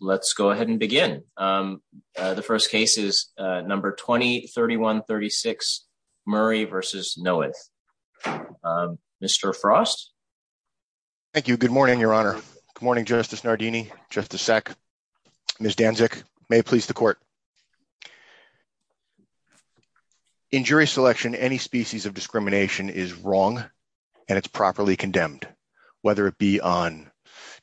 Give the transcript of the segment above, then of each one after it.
Let's go ahead and begin. The first case is number 20-3136, Murray v. Noeth. Mr. Frost? Thank you. Good morning, Your Honor. Good morning, Justice Nardini, Justice Sack, Ms. Danczyk. May it please the court. In jury selection, any species of discrimination is wrong and it's properly condemned, whether it be on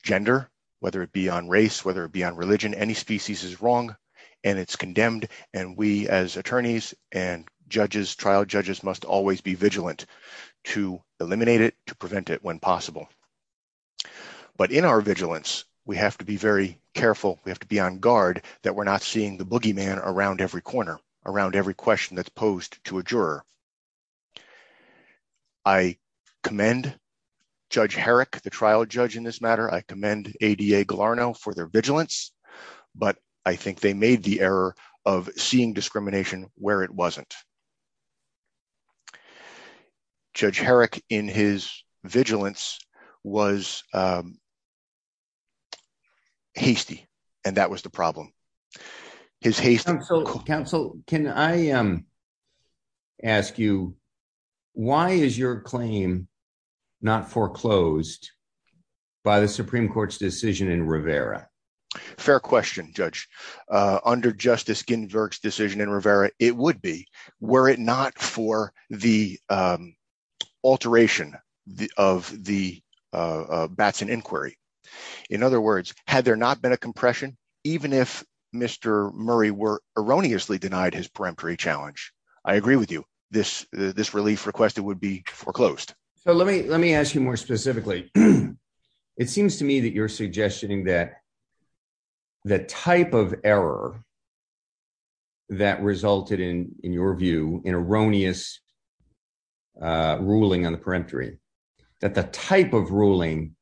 race, whether it be on religion, any species is wrong and it's condemned. And we, as attorneys and judges, trial judges, must always be vigilant to eliminate it, to prevent it when possible. But in our vigilance, we have to be very careful. We have to be on guard that we're not seeing the boogeyman around every corner, around every question that's posed to a juror. I commend Judge Herrick, the trial judge in this matter. I commend ADA-GLARNO for their vigilance, but I think they made the error of seeing discrimination where it wasn't. Judge Herrick, in his vigilance, was hasty, and that was the problem. His hasty... Counsel, can I ask you, why is your claim not foreclosed by the Supreme Court's decision in Rivera? Fair question, Judge. Under Justice Ginsburg's decision in Rivera, it would be, were it not for the alteration of the Batson inquiry. In other words, had there not been a compression, even if Mr. Murray were erroneously denied his peremptory challenge, I agree with you, this relief request, it would be foreclosed. So let me ask you more specifically. It seems to me that you're suggesting that the type of error that resulted in, in your view, an erroneous ruling on the peremptory, that the type of ruling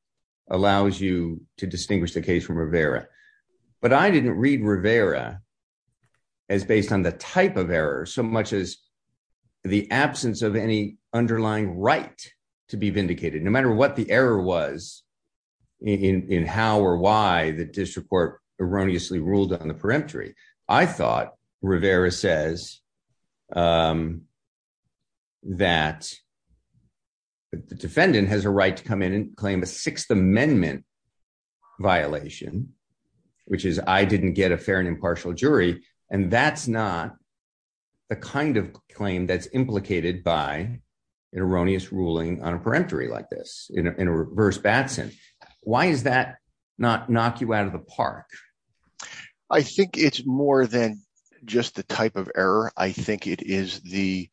allows you to distinguish the case from Rivera. But I didn't read Rivera as based on the type of error, so much as the absence of any underlying right to be vindicated, no matter what the error was in how or why the district court erroneously ruled on the peremptory. I thought Rivera says that the defendant has a right to come in and claim a Sixth Amendment violation, which is I didn't get a fair and impartial jury. And that's not the kind of claim that's implicated by an erroneous ruling on a peremptory like this in reverse Batson. Why is that not knock you out of the park? I think it's more than just the type of error. I think it is the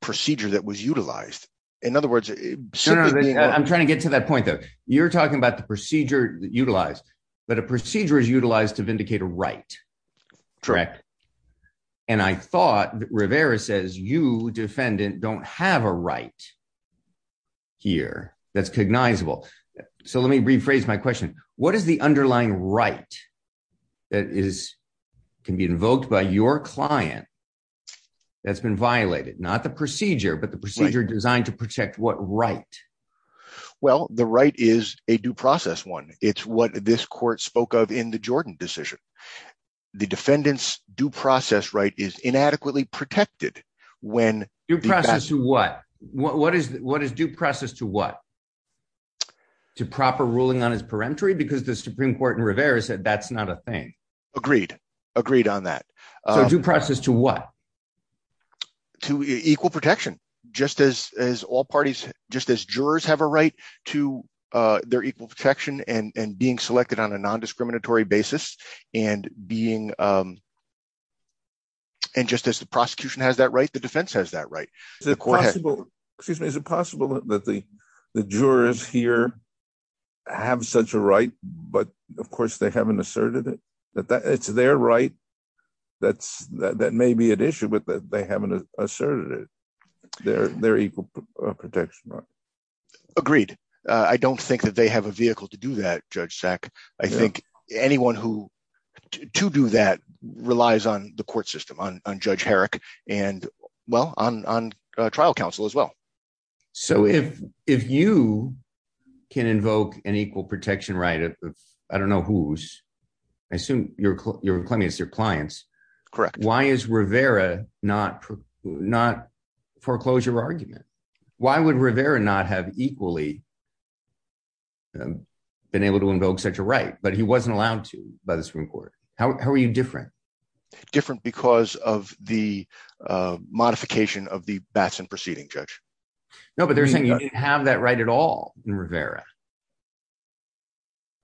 procedure that was utilized. In other words, I'm trying to get to that point that you're talking about the procedure that utilized, but a procedure is utilized to vindicate a right. Correct. And I thought Rivera says you defendant don't have a right here. That's cognizable. So let me rephrase my question. What is the underlying right that is can be invoked by your client that's been violated? Not the procedure, but the procedure designed to protect what right? Well, the right is a due process one. It's what this court spoke of in the Jordan decision. The defendant's due process right is inadequately protected. When your process to what? What is what is due process to what? To proper ruling on his peremptory, because the Supreme Court and Rivera said that's not a thing. Agreed. Agreed on that. So due process to what? To equal protection, just as as all parties, just as jurors have a right to their equal protection and being selected on a non-discriminatory basis and being. And just as the prosecution has that right, the defense has that right. Is it possible that the jurors here have such a right? But of course, they haven't asserted it, that it's their right. That's that may be an issue, but they haven't asserted it. They're they're equal protection. Agreed. I don't think that they have a vehicle to do that, Judge Sack. I think anyone who to do that relies on the court system on Judge Herrick and well, on trial counsel as well. So if if you can invoke an equal protection, right? I don't know who's I assume you're clients. Correct. Why is Rivera not not foreclosure argument? Why would Rivera not have equally been able to invoke such a right? But he wasn't allowed to by the Supreme Court. How are you different? Different because of the modification of the Batson proceeding, Judge. No, but they're saying you didn't have that right at all in Rivera.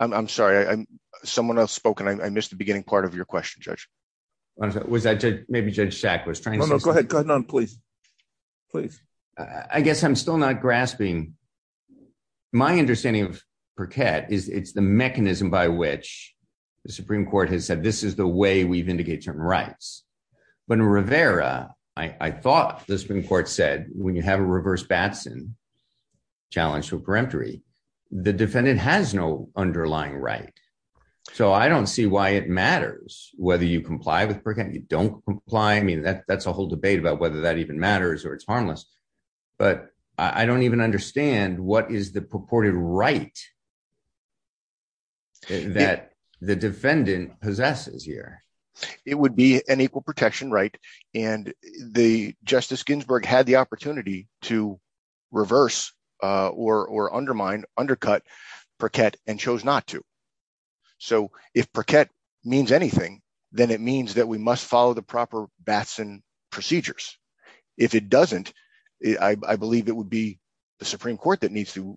I'm sorry, I'm someone else spoken. I missed the beginning part of your question, Judge. Was that maybe Judge Sack was trying to go ahead. Please, please. I guess I'm still not grasping. My understanding of Perquette is it's the mechanism by which the Supreme Court has said, this is the way we vindicate term rights. But in Rivera, I thought the Supreme Court said, when you have a reverse Batson challenge to peremptory, the defendant has no underlying right. So I don't see why it matters whether you comply with Perquette. You don't comply. I mean, that's a whole debate about whether that even matters or it's harmless. But I don't even understand what is the purported right that the defendant possesses here. It would be an equal protection right. And the Justice Ginsburg had the opportunity to reverse or undermine, undercut Perquette and chose not to. So if Perquette means anything, then it means that we must follow the proper Batson procedures. If it doesn't, I believe it would be the Supreme Court that needs to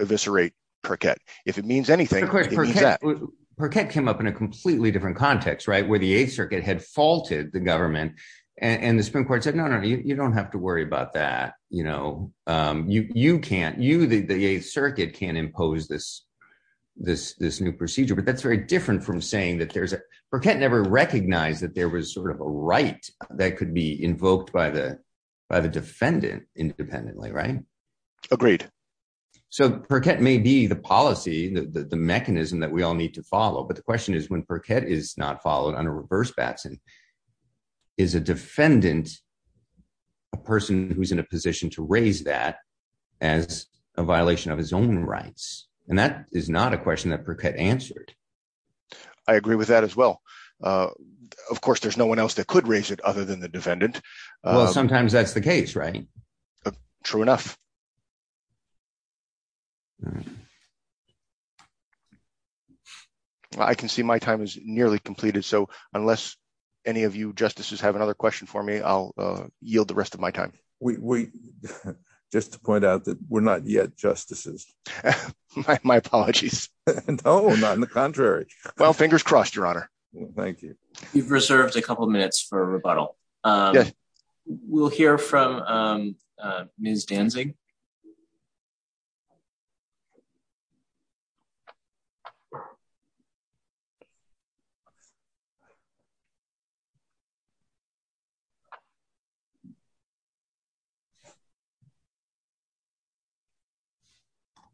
eviscerate Perquette. If it means anything. Perquette came up in a completely different context, right, where the Eighth Circuit had faulted the government. And the Supreme Court said, no, no, you don't have to worry about that. You know, you can't, you, the Eighth Circuit can't impose this new procedure. But that's very different from saying that there's a, Perquette never recognized that there was sort of a right that could be invoked by the defendant independently, right? Agreed. So Perquette may be the policy, the mechanism that we all need to follow. But the question is when Perquette is not followed under reverse Batson, is a defendant a person who's in a position to raise that as a violation of his own rights? And that is not a question that Perquette answered. I agree with that as well. Of course, there's no one else that could raise it other than the defendant. Well, sometimes that's the case, right? True enough. I can see my time is nearly completed. So unless any of you justices have another question for me, I'll yield the rest of my time. We just to point out that we're not yet justices. My apologies. No, not in the contrary. Well, fingers crossed, Your Honor. Thank you. We've reserved a couple of minutes for rebuttal. We'll hear from Ms. Danzig.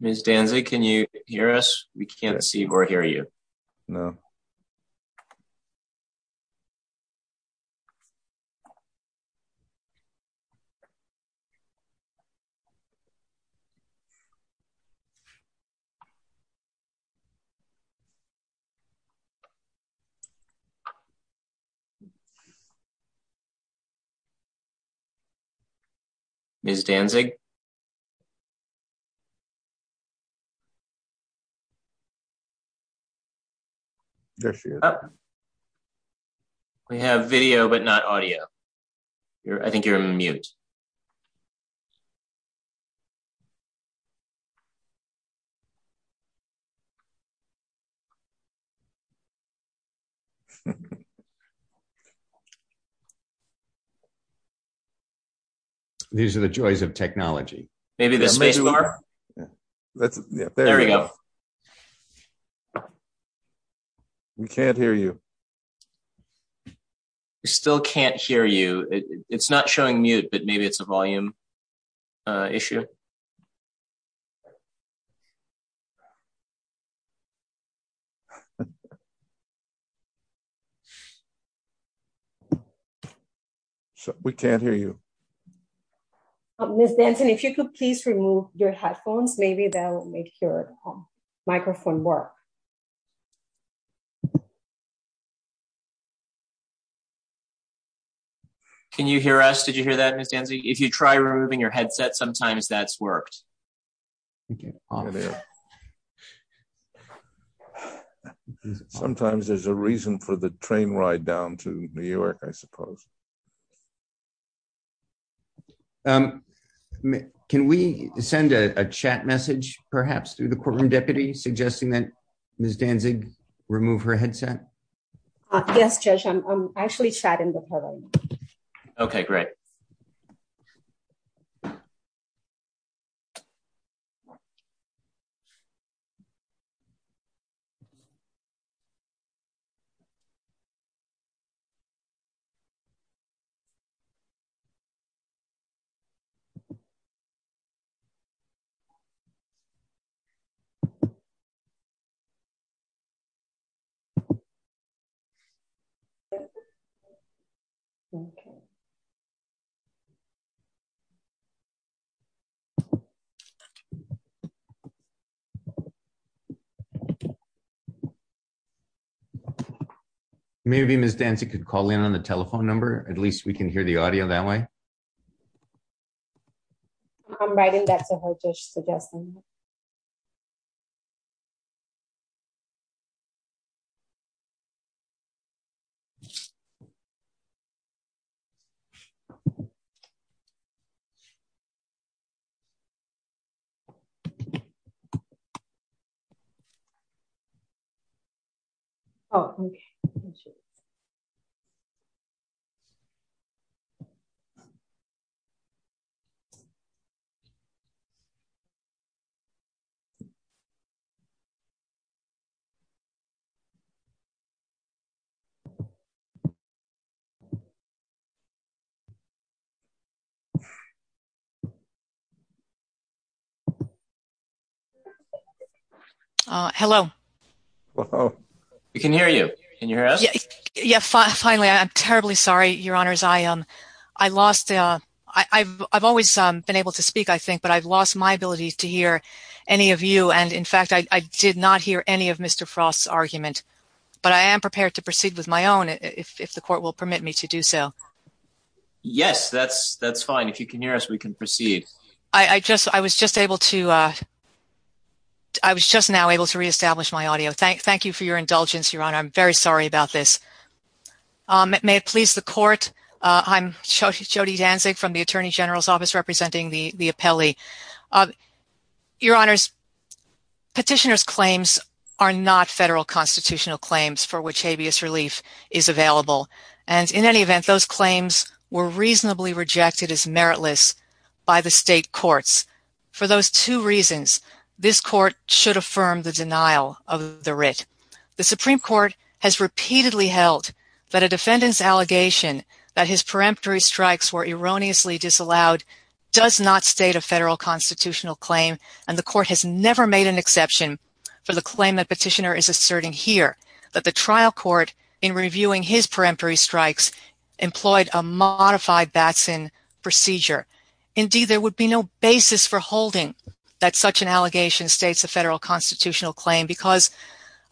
Ms. Danzig, can you hear us? We can't see or hear you. No. Okay. Ms. Danzig? We have video, but not audio. I think you're on mute. Yes. These are the joys of technology. Maybe the space bar? There we go. We can't hear you. We still can't hear you. It's not showing mute, but maybe it's a volume issue. We can't hear you. Ms. Danzig, if you could please remove your headphones, maybe that will make your microphone work. Can you hear us? Did you hear that, Ms. Danzig? If you try removing your headset, sometimes that's worked. Sometimes there's a reason for the train ride down to New York, I suppose. Can we send a chat message, perhaps, through the courtroom deputy suggesting that Ms. Danzig remove her headset? Yes, Judge, I'm actually chatting with her right now. Okay, great. Okay. Maybe Ms. Danzig could call in on the telephone number. At least we can hear the audio that way. I'm writing that to her, Judge, suggesting. Okay. Oh, okay. Okay. Hello. We can hear you. Can you hear us? Yes, finally. I'm terribly sorry, Your Honors. I've always been able to speak, I think, but I've did not hear any of Mr. Frost's argument. But I am prepared to proceed with my own, if the Court will permit me to do so. Yes, that's fine. If you can hear us, we can proceed. I was just now able to reestablish my audio. Thank you for your indulgence, Your Honor. I'm very sorry about this. May it please the Court, I'm Jody Danzig from the Attorney General's Appeal. Your Honor, petitioner's claims are not federal constitutional claims for which habeas relief is available. And in any event, those claims were reasonably rejected as meritless by the state courts. For those two reasons, this Court should affirm the denial of the writ. The Supreme Court has repeatedly held that a defendant's allegation that his does not state a federal constitutional claim, and the Court has never made an exception for the claim that petitioner is asserting here, that the trial court in reviewing his peremptory strikes employed a modified Batson procedure. Indeed, there would be no basis for holding that such an allegation states a federal constitutional claim because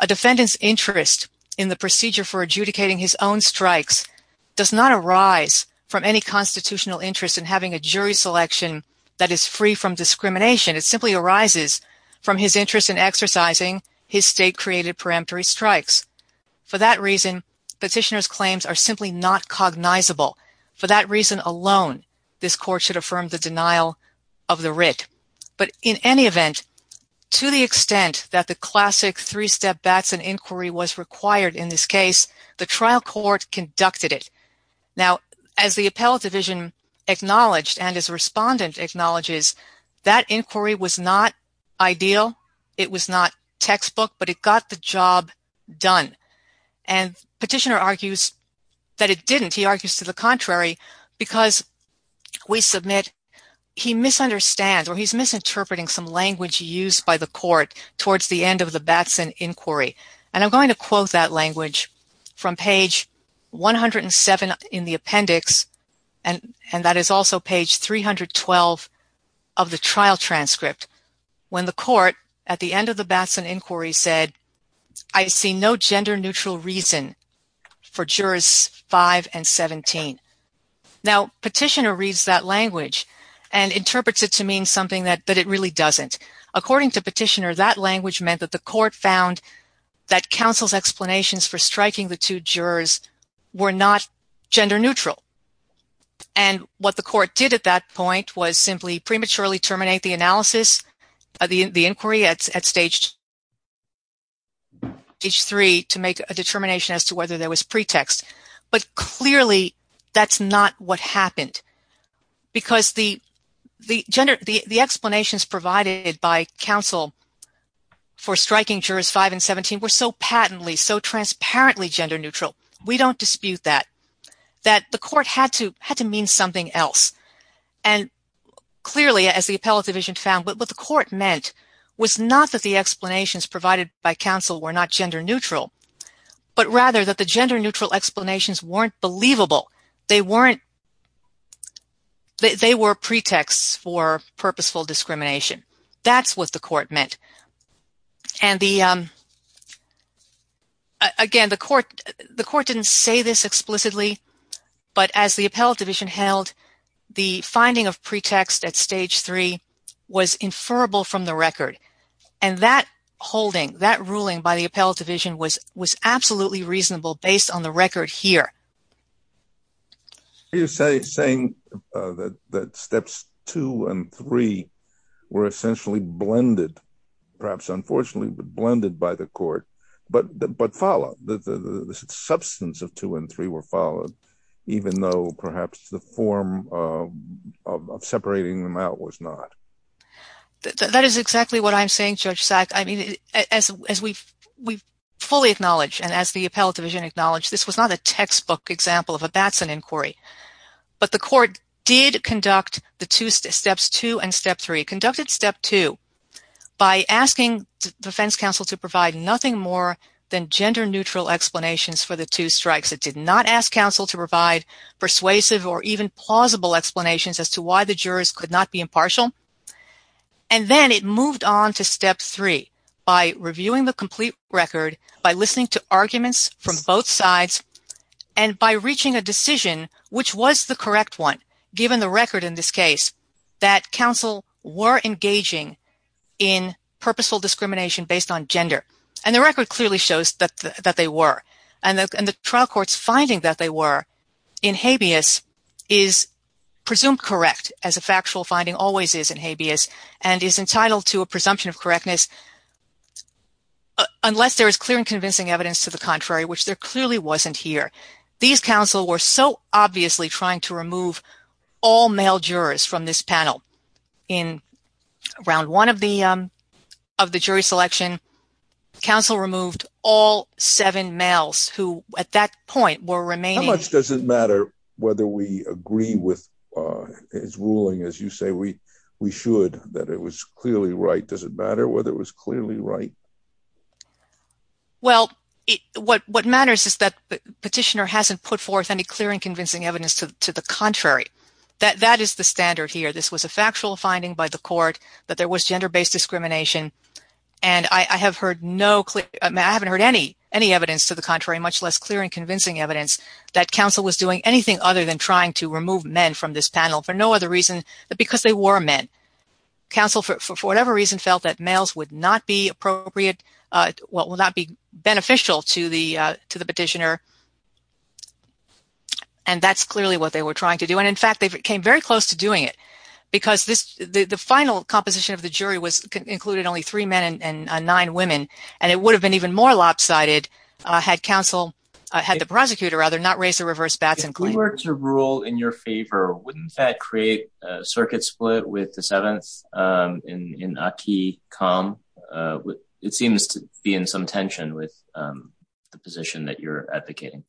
a defendant's interest in the procedure for adjudicating his own strikes does not arise from any constitutional interest in having a jury selection that is free from discrimination. It simply arises from his interest in exercising his state-created peremptory strikes. For that reason, petitioner's claims are simply not cognizable. For that reason alone, this Court should affirm the denial of the writ. But in any event, to the extent that the classic three-step Batson inquiry was required in this and his respondent acknowledges, that inquiry was not ideal, it was not textbook, but it got the job done. And petitioner argues that it didn't. He argues to the contrary because we submit he misunderstands or he's misinterpreting some language used by the Court towards the end of the Batson inquiry. And I'm going to quote that language from page 107 in the appendix, and that is also page 312 of the trial transcript, when the Court at the end of the Batson inquiry said, I see no gender-neutral reason for jurors 5 and 17. Now, petitioner reads that language and interprets it to mean something that it really doesn't. According to petitioner, that language meant that the Court found that counsel's explanations for striking the two jurors were not gender-neutral. And what the Court did at that point was simply prematurely terminate the analysis, the inquiry at stage 3 to make a determination as to whether there was pretext. But clearly, that's not what happened. Because the explanations provided by counsel for striking jurors 5 and 17 were so patently, so transparently gender-neutral, we don't dispute that, that the Court had to mean something else. And clearly, as the appellate division found, what the Court meant was not that the explanations provided by counsel were not gender-neutral, but rather that the gender-neutral explanations weren't believable. They were pretexts for purposeful discrimination. That's what the Court meant. And again, the Court didn't say this explicitly, but as the appellate division held, the finding of pretext at stage 3 was inferable from the record. And that holding, that ruling by the appellate division was absolutely reasonable based on the record here. You're saying that steps 2 and 3 were essentially blended, perhaps unfortunately, blended by the Court, but followed. The substance of 2 and 3 were followed, even though perhaps the form of separating them out was not. That is exactly what I'm saying, Judge Sack. I mean, as we've fully acknowledged, and as the appellate division acknowledged, this was not a textbook example of a Batson inquiry. But the Court did conduct the steps 2 and step 3, conducted step 2 by asking the defense counsel to provide nothing more than gender-neutral explanations for the two strikes. It did not ask counsel to provide persuasive or even plausible explanations as to why the jurors could not be impartial. And then it moved on to step 3 by reviewing the complete record, by listening to arguments from both sides, and by reaching a decision which was the correct one, given the record in this case, that counsel were engaging in purposeful discrimination based on gender. And the record clearly shows that they were. And the trial court's finding that they were in habeas is presumed correct, as a factual finding always is in habeas, and is entitled to a presumption of correctness, unless there is clear and convincing evidence to the contrary, which there clearly wasn't here. These counsel were so obviously trying to remove all male jurors from this panel. In Round 1 of the jury selection, counsel removed all seven males who, at that point, were remaining... How much does it matter whether we agree with his ruling, as you say, we should, that it was clearly right? Does it matter whether it was clearly right? Well, what matters is that the petitioner hasn't put forth any clear and convincing evidence to the contrary. That is the standard here. This was a factual finding by the Court that there was gender-based discrimination. And I haven't heard any evidence to the contrary, much less clear and convincing evidence that counsel was doing anything other than trying to remove men from this panel, for no other reason than because they were men. Counsel, for whatever reason, felt that males would not be appropriate, would not be beneficial to the petitioner. And that's clearly what they were trying to do. And in fact, they came very close to doing it, because the final composition of the jury included only three men and nine women, and it would have been even more lopsided had counsel, had the prosecutor, rather, not raised the reverse bats in court. If we were to rule in your favor, wouldn't that create a circuit split with the seventh in Aki Kam? It seems to be in some tension with the position that you're advocating.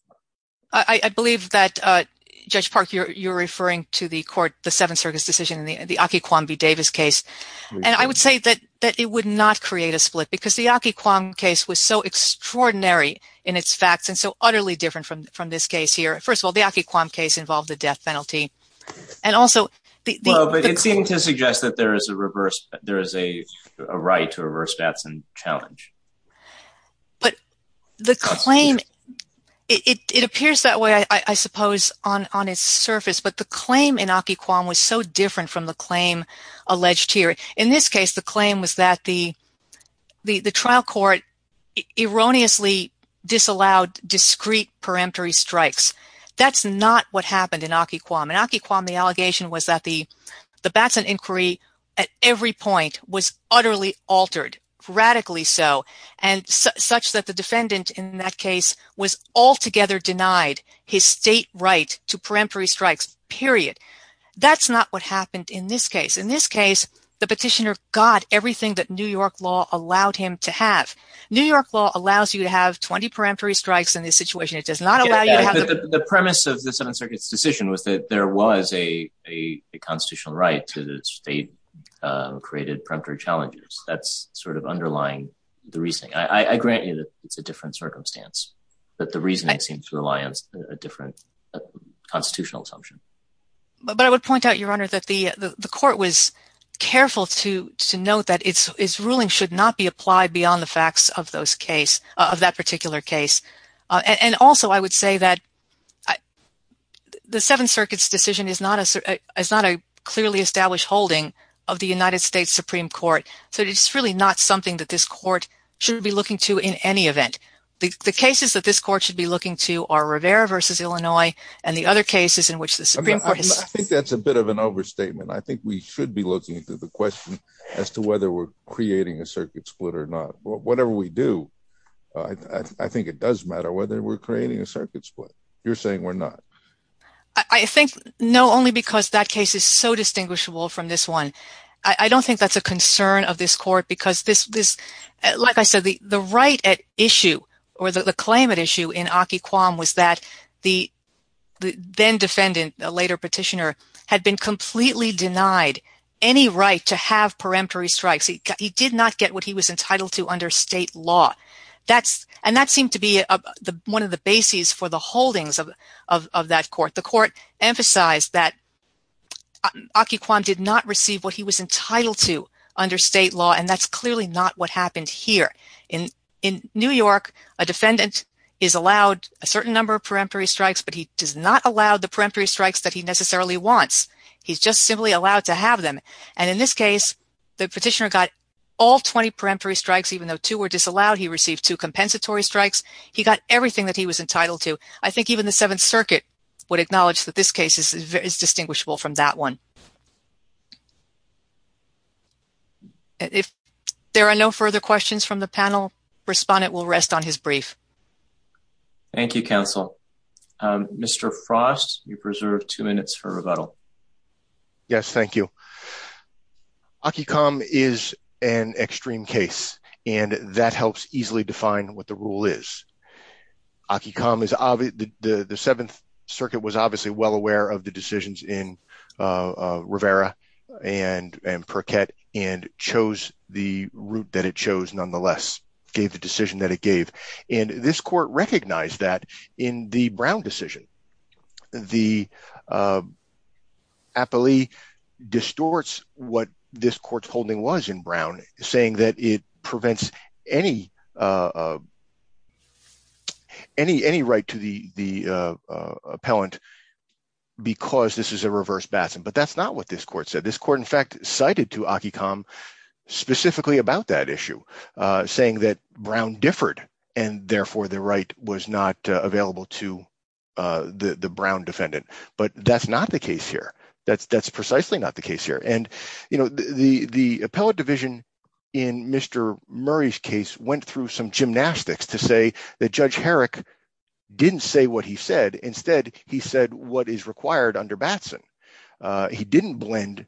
I believe that, Judge Park, you're referring to the Seventh Circuit's decision in the Aki Kam v. Davis case. And I would say that it would not create a split, because the Aki Kam case was so extraordinary in its facts, and so utterly different from this case here. First of all, the Aki Kam case involved the death penalty. Well, but it seemed to suggest that there is a right to reverse bats in challenge. But the claim, it appears that way, I suppose, on its surface, but the claim in Aki Kam was so different from the claim alleged here. In this case, the claim was that the trial court erroneously disallowed discrete peremptory strikes. That's not what happened in Aki Kam. In Aki Kam, the allegation was that the bats in inquiry at every point was utterly altered, radically so, such that the defendant in that case was altogether denied his state right to peremptory strikes, period. That's not what happened in this case. In this case, the petitioner got everything that New York law allowed him to have. New York law allows you to have 20 peremptory strikes in this situation. It does not allow you to have... The premise of the Seventh Circuit's decision was that there was a constitutional right to the state-created peremptory challenges. That's underlying the reasoning. I grant you that it's a different circumstance, that the reasoning seems to rely on a different constitutional assumption. I would point out, Your Honor, that the court was careful to note that its ruling should not be applied beyond the facts of that particular case. Also, I would say that the Seventh Circuit's decision is not a clearly established holding of the United States Supreme Court. It's really not something that this court should be looking to in any event. The cases that this court should be looking to are Rivera v. Illinois and the other cases in which the Supreme Court has... I think that's a bit of an overstatement. I think we should be looking into the question as to whether we're creating a circuit split or not. Whatever we do, I think it does matter whether we're creating a circuit split. You're saying we're not. I think no, only because that case is so distinguishable from this one. I don't think that's a concern of this court. Like I said, the right at issue or the claim at issue in Akiquam was that the then-defendant, a later petitioner, had been completely denied any right to have peremptory strikes. He did not get what he was entitled to under state law. That seemed to be one of the bases for the holdings of that court. The court emphasized that he was entitled to under state law, and that's clearly not what happened here. In New York, a defendant is allowed a certain number of peremptory strikes, but he does not allow the peremptory strikes that he necessarily wants. He's just simply allowed to have them. In this case, the petitioner got all 20 peremptory strikes, even though two were disallowed. He received two compensatory strikes. He got everything that he was entitled to. I think even the Seventh Circuit would acknowledge that this case is very distinguishable from that one. If there are no further questions from the panel, the respondent will rest on his brief. Thank you, counsel. Mr. Frost, you preserve two minutes for rebuttal. Yes, thank you. Akiquam is an extreme case, and that helps easily define what the rule is. Akiquam, the Seventh Circuit was obviously well aware of the decisions in Rivera and Perquette and chose the route that it chose nonetheless, gave the decision that it gave. This court recognized that in the Brown decision. The appellee distorts what this court's holding was in Brown, saying that it prevents any right to the appellant because this is a reverse bassin. But that's not what this court said. This court, in fact, cited to Akiquam specifically about that issue, saying that Brown differed, and therefore the right was not available to the Brown defendant. But that's not the case here. That's precisely not the case here. The appellate division in Mr. Murray's case went through some gymnastics to say that Judge Herrick didn't say what he said. Instead, he said what is required under Batson. He didn't blend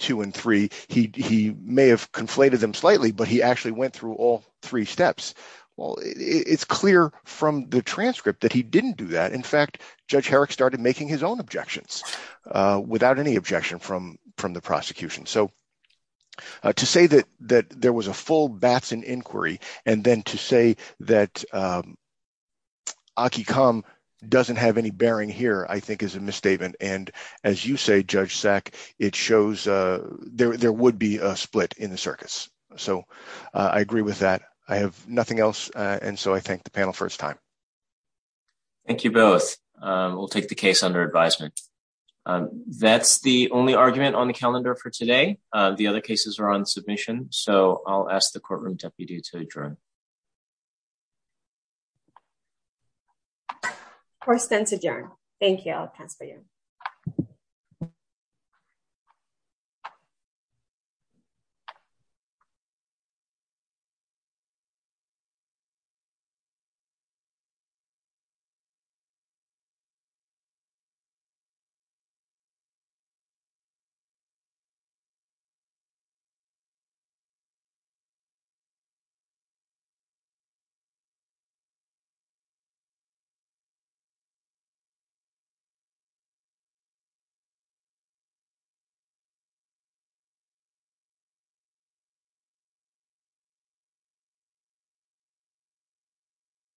two and three. He may have conflated them slightly, but he actually went through all three steps. Well, it's clear from the transcript that he didn't do that. In fact, Judge Herrick started making his own objections without any objection from the inquiry. And then to say that Akiquam doesn't have any bearing here, I think, is a misstatement. And as you say, Judge Sack, it shows there would be a split in the circuits. So I agree with that. I have nothing else. And so I thank the panel for its time. Thank you both. We'll take the case under advisement. That's the only argument on the agenda. Course then to adjourn. Thank you. I'll pass for you. Thank you.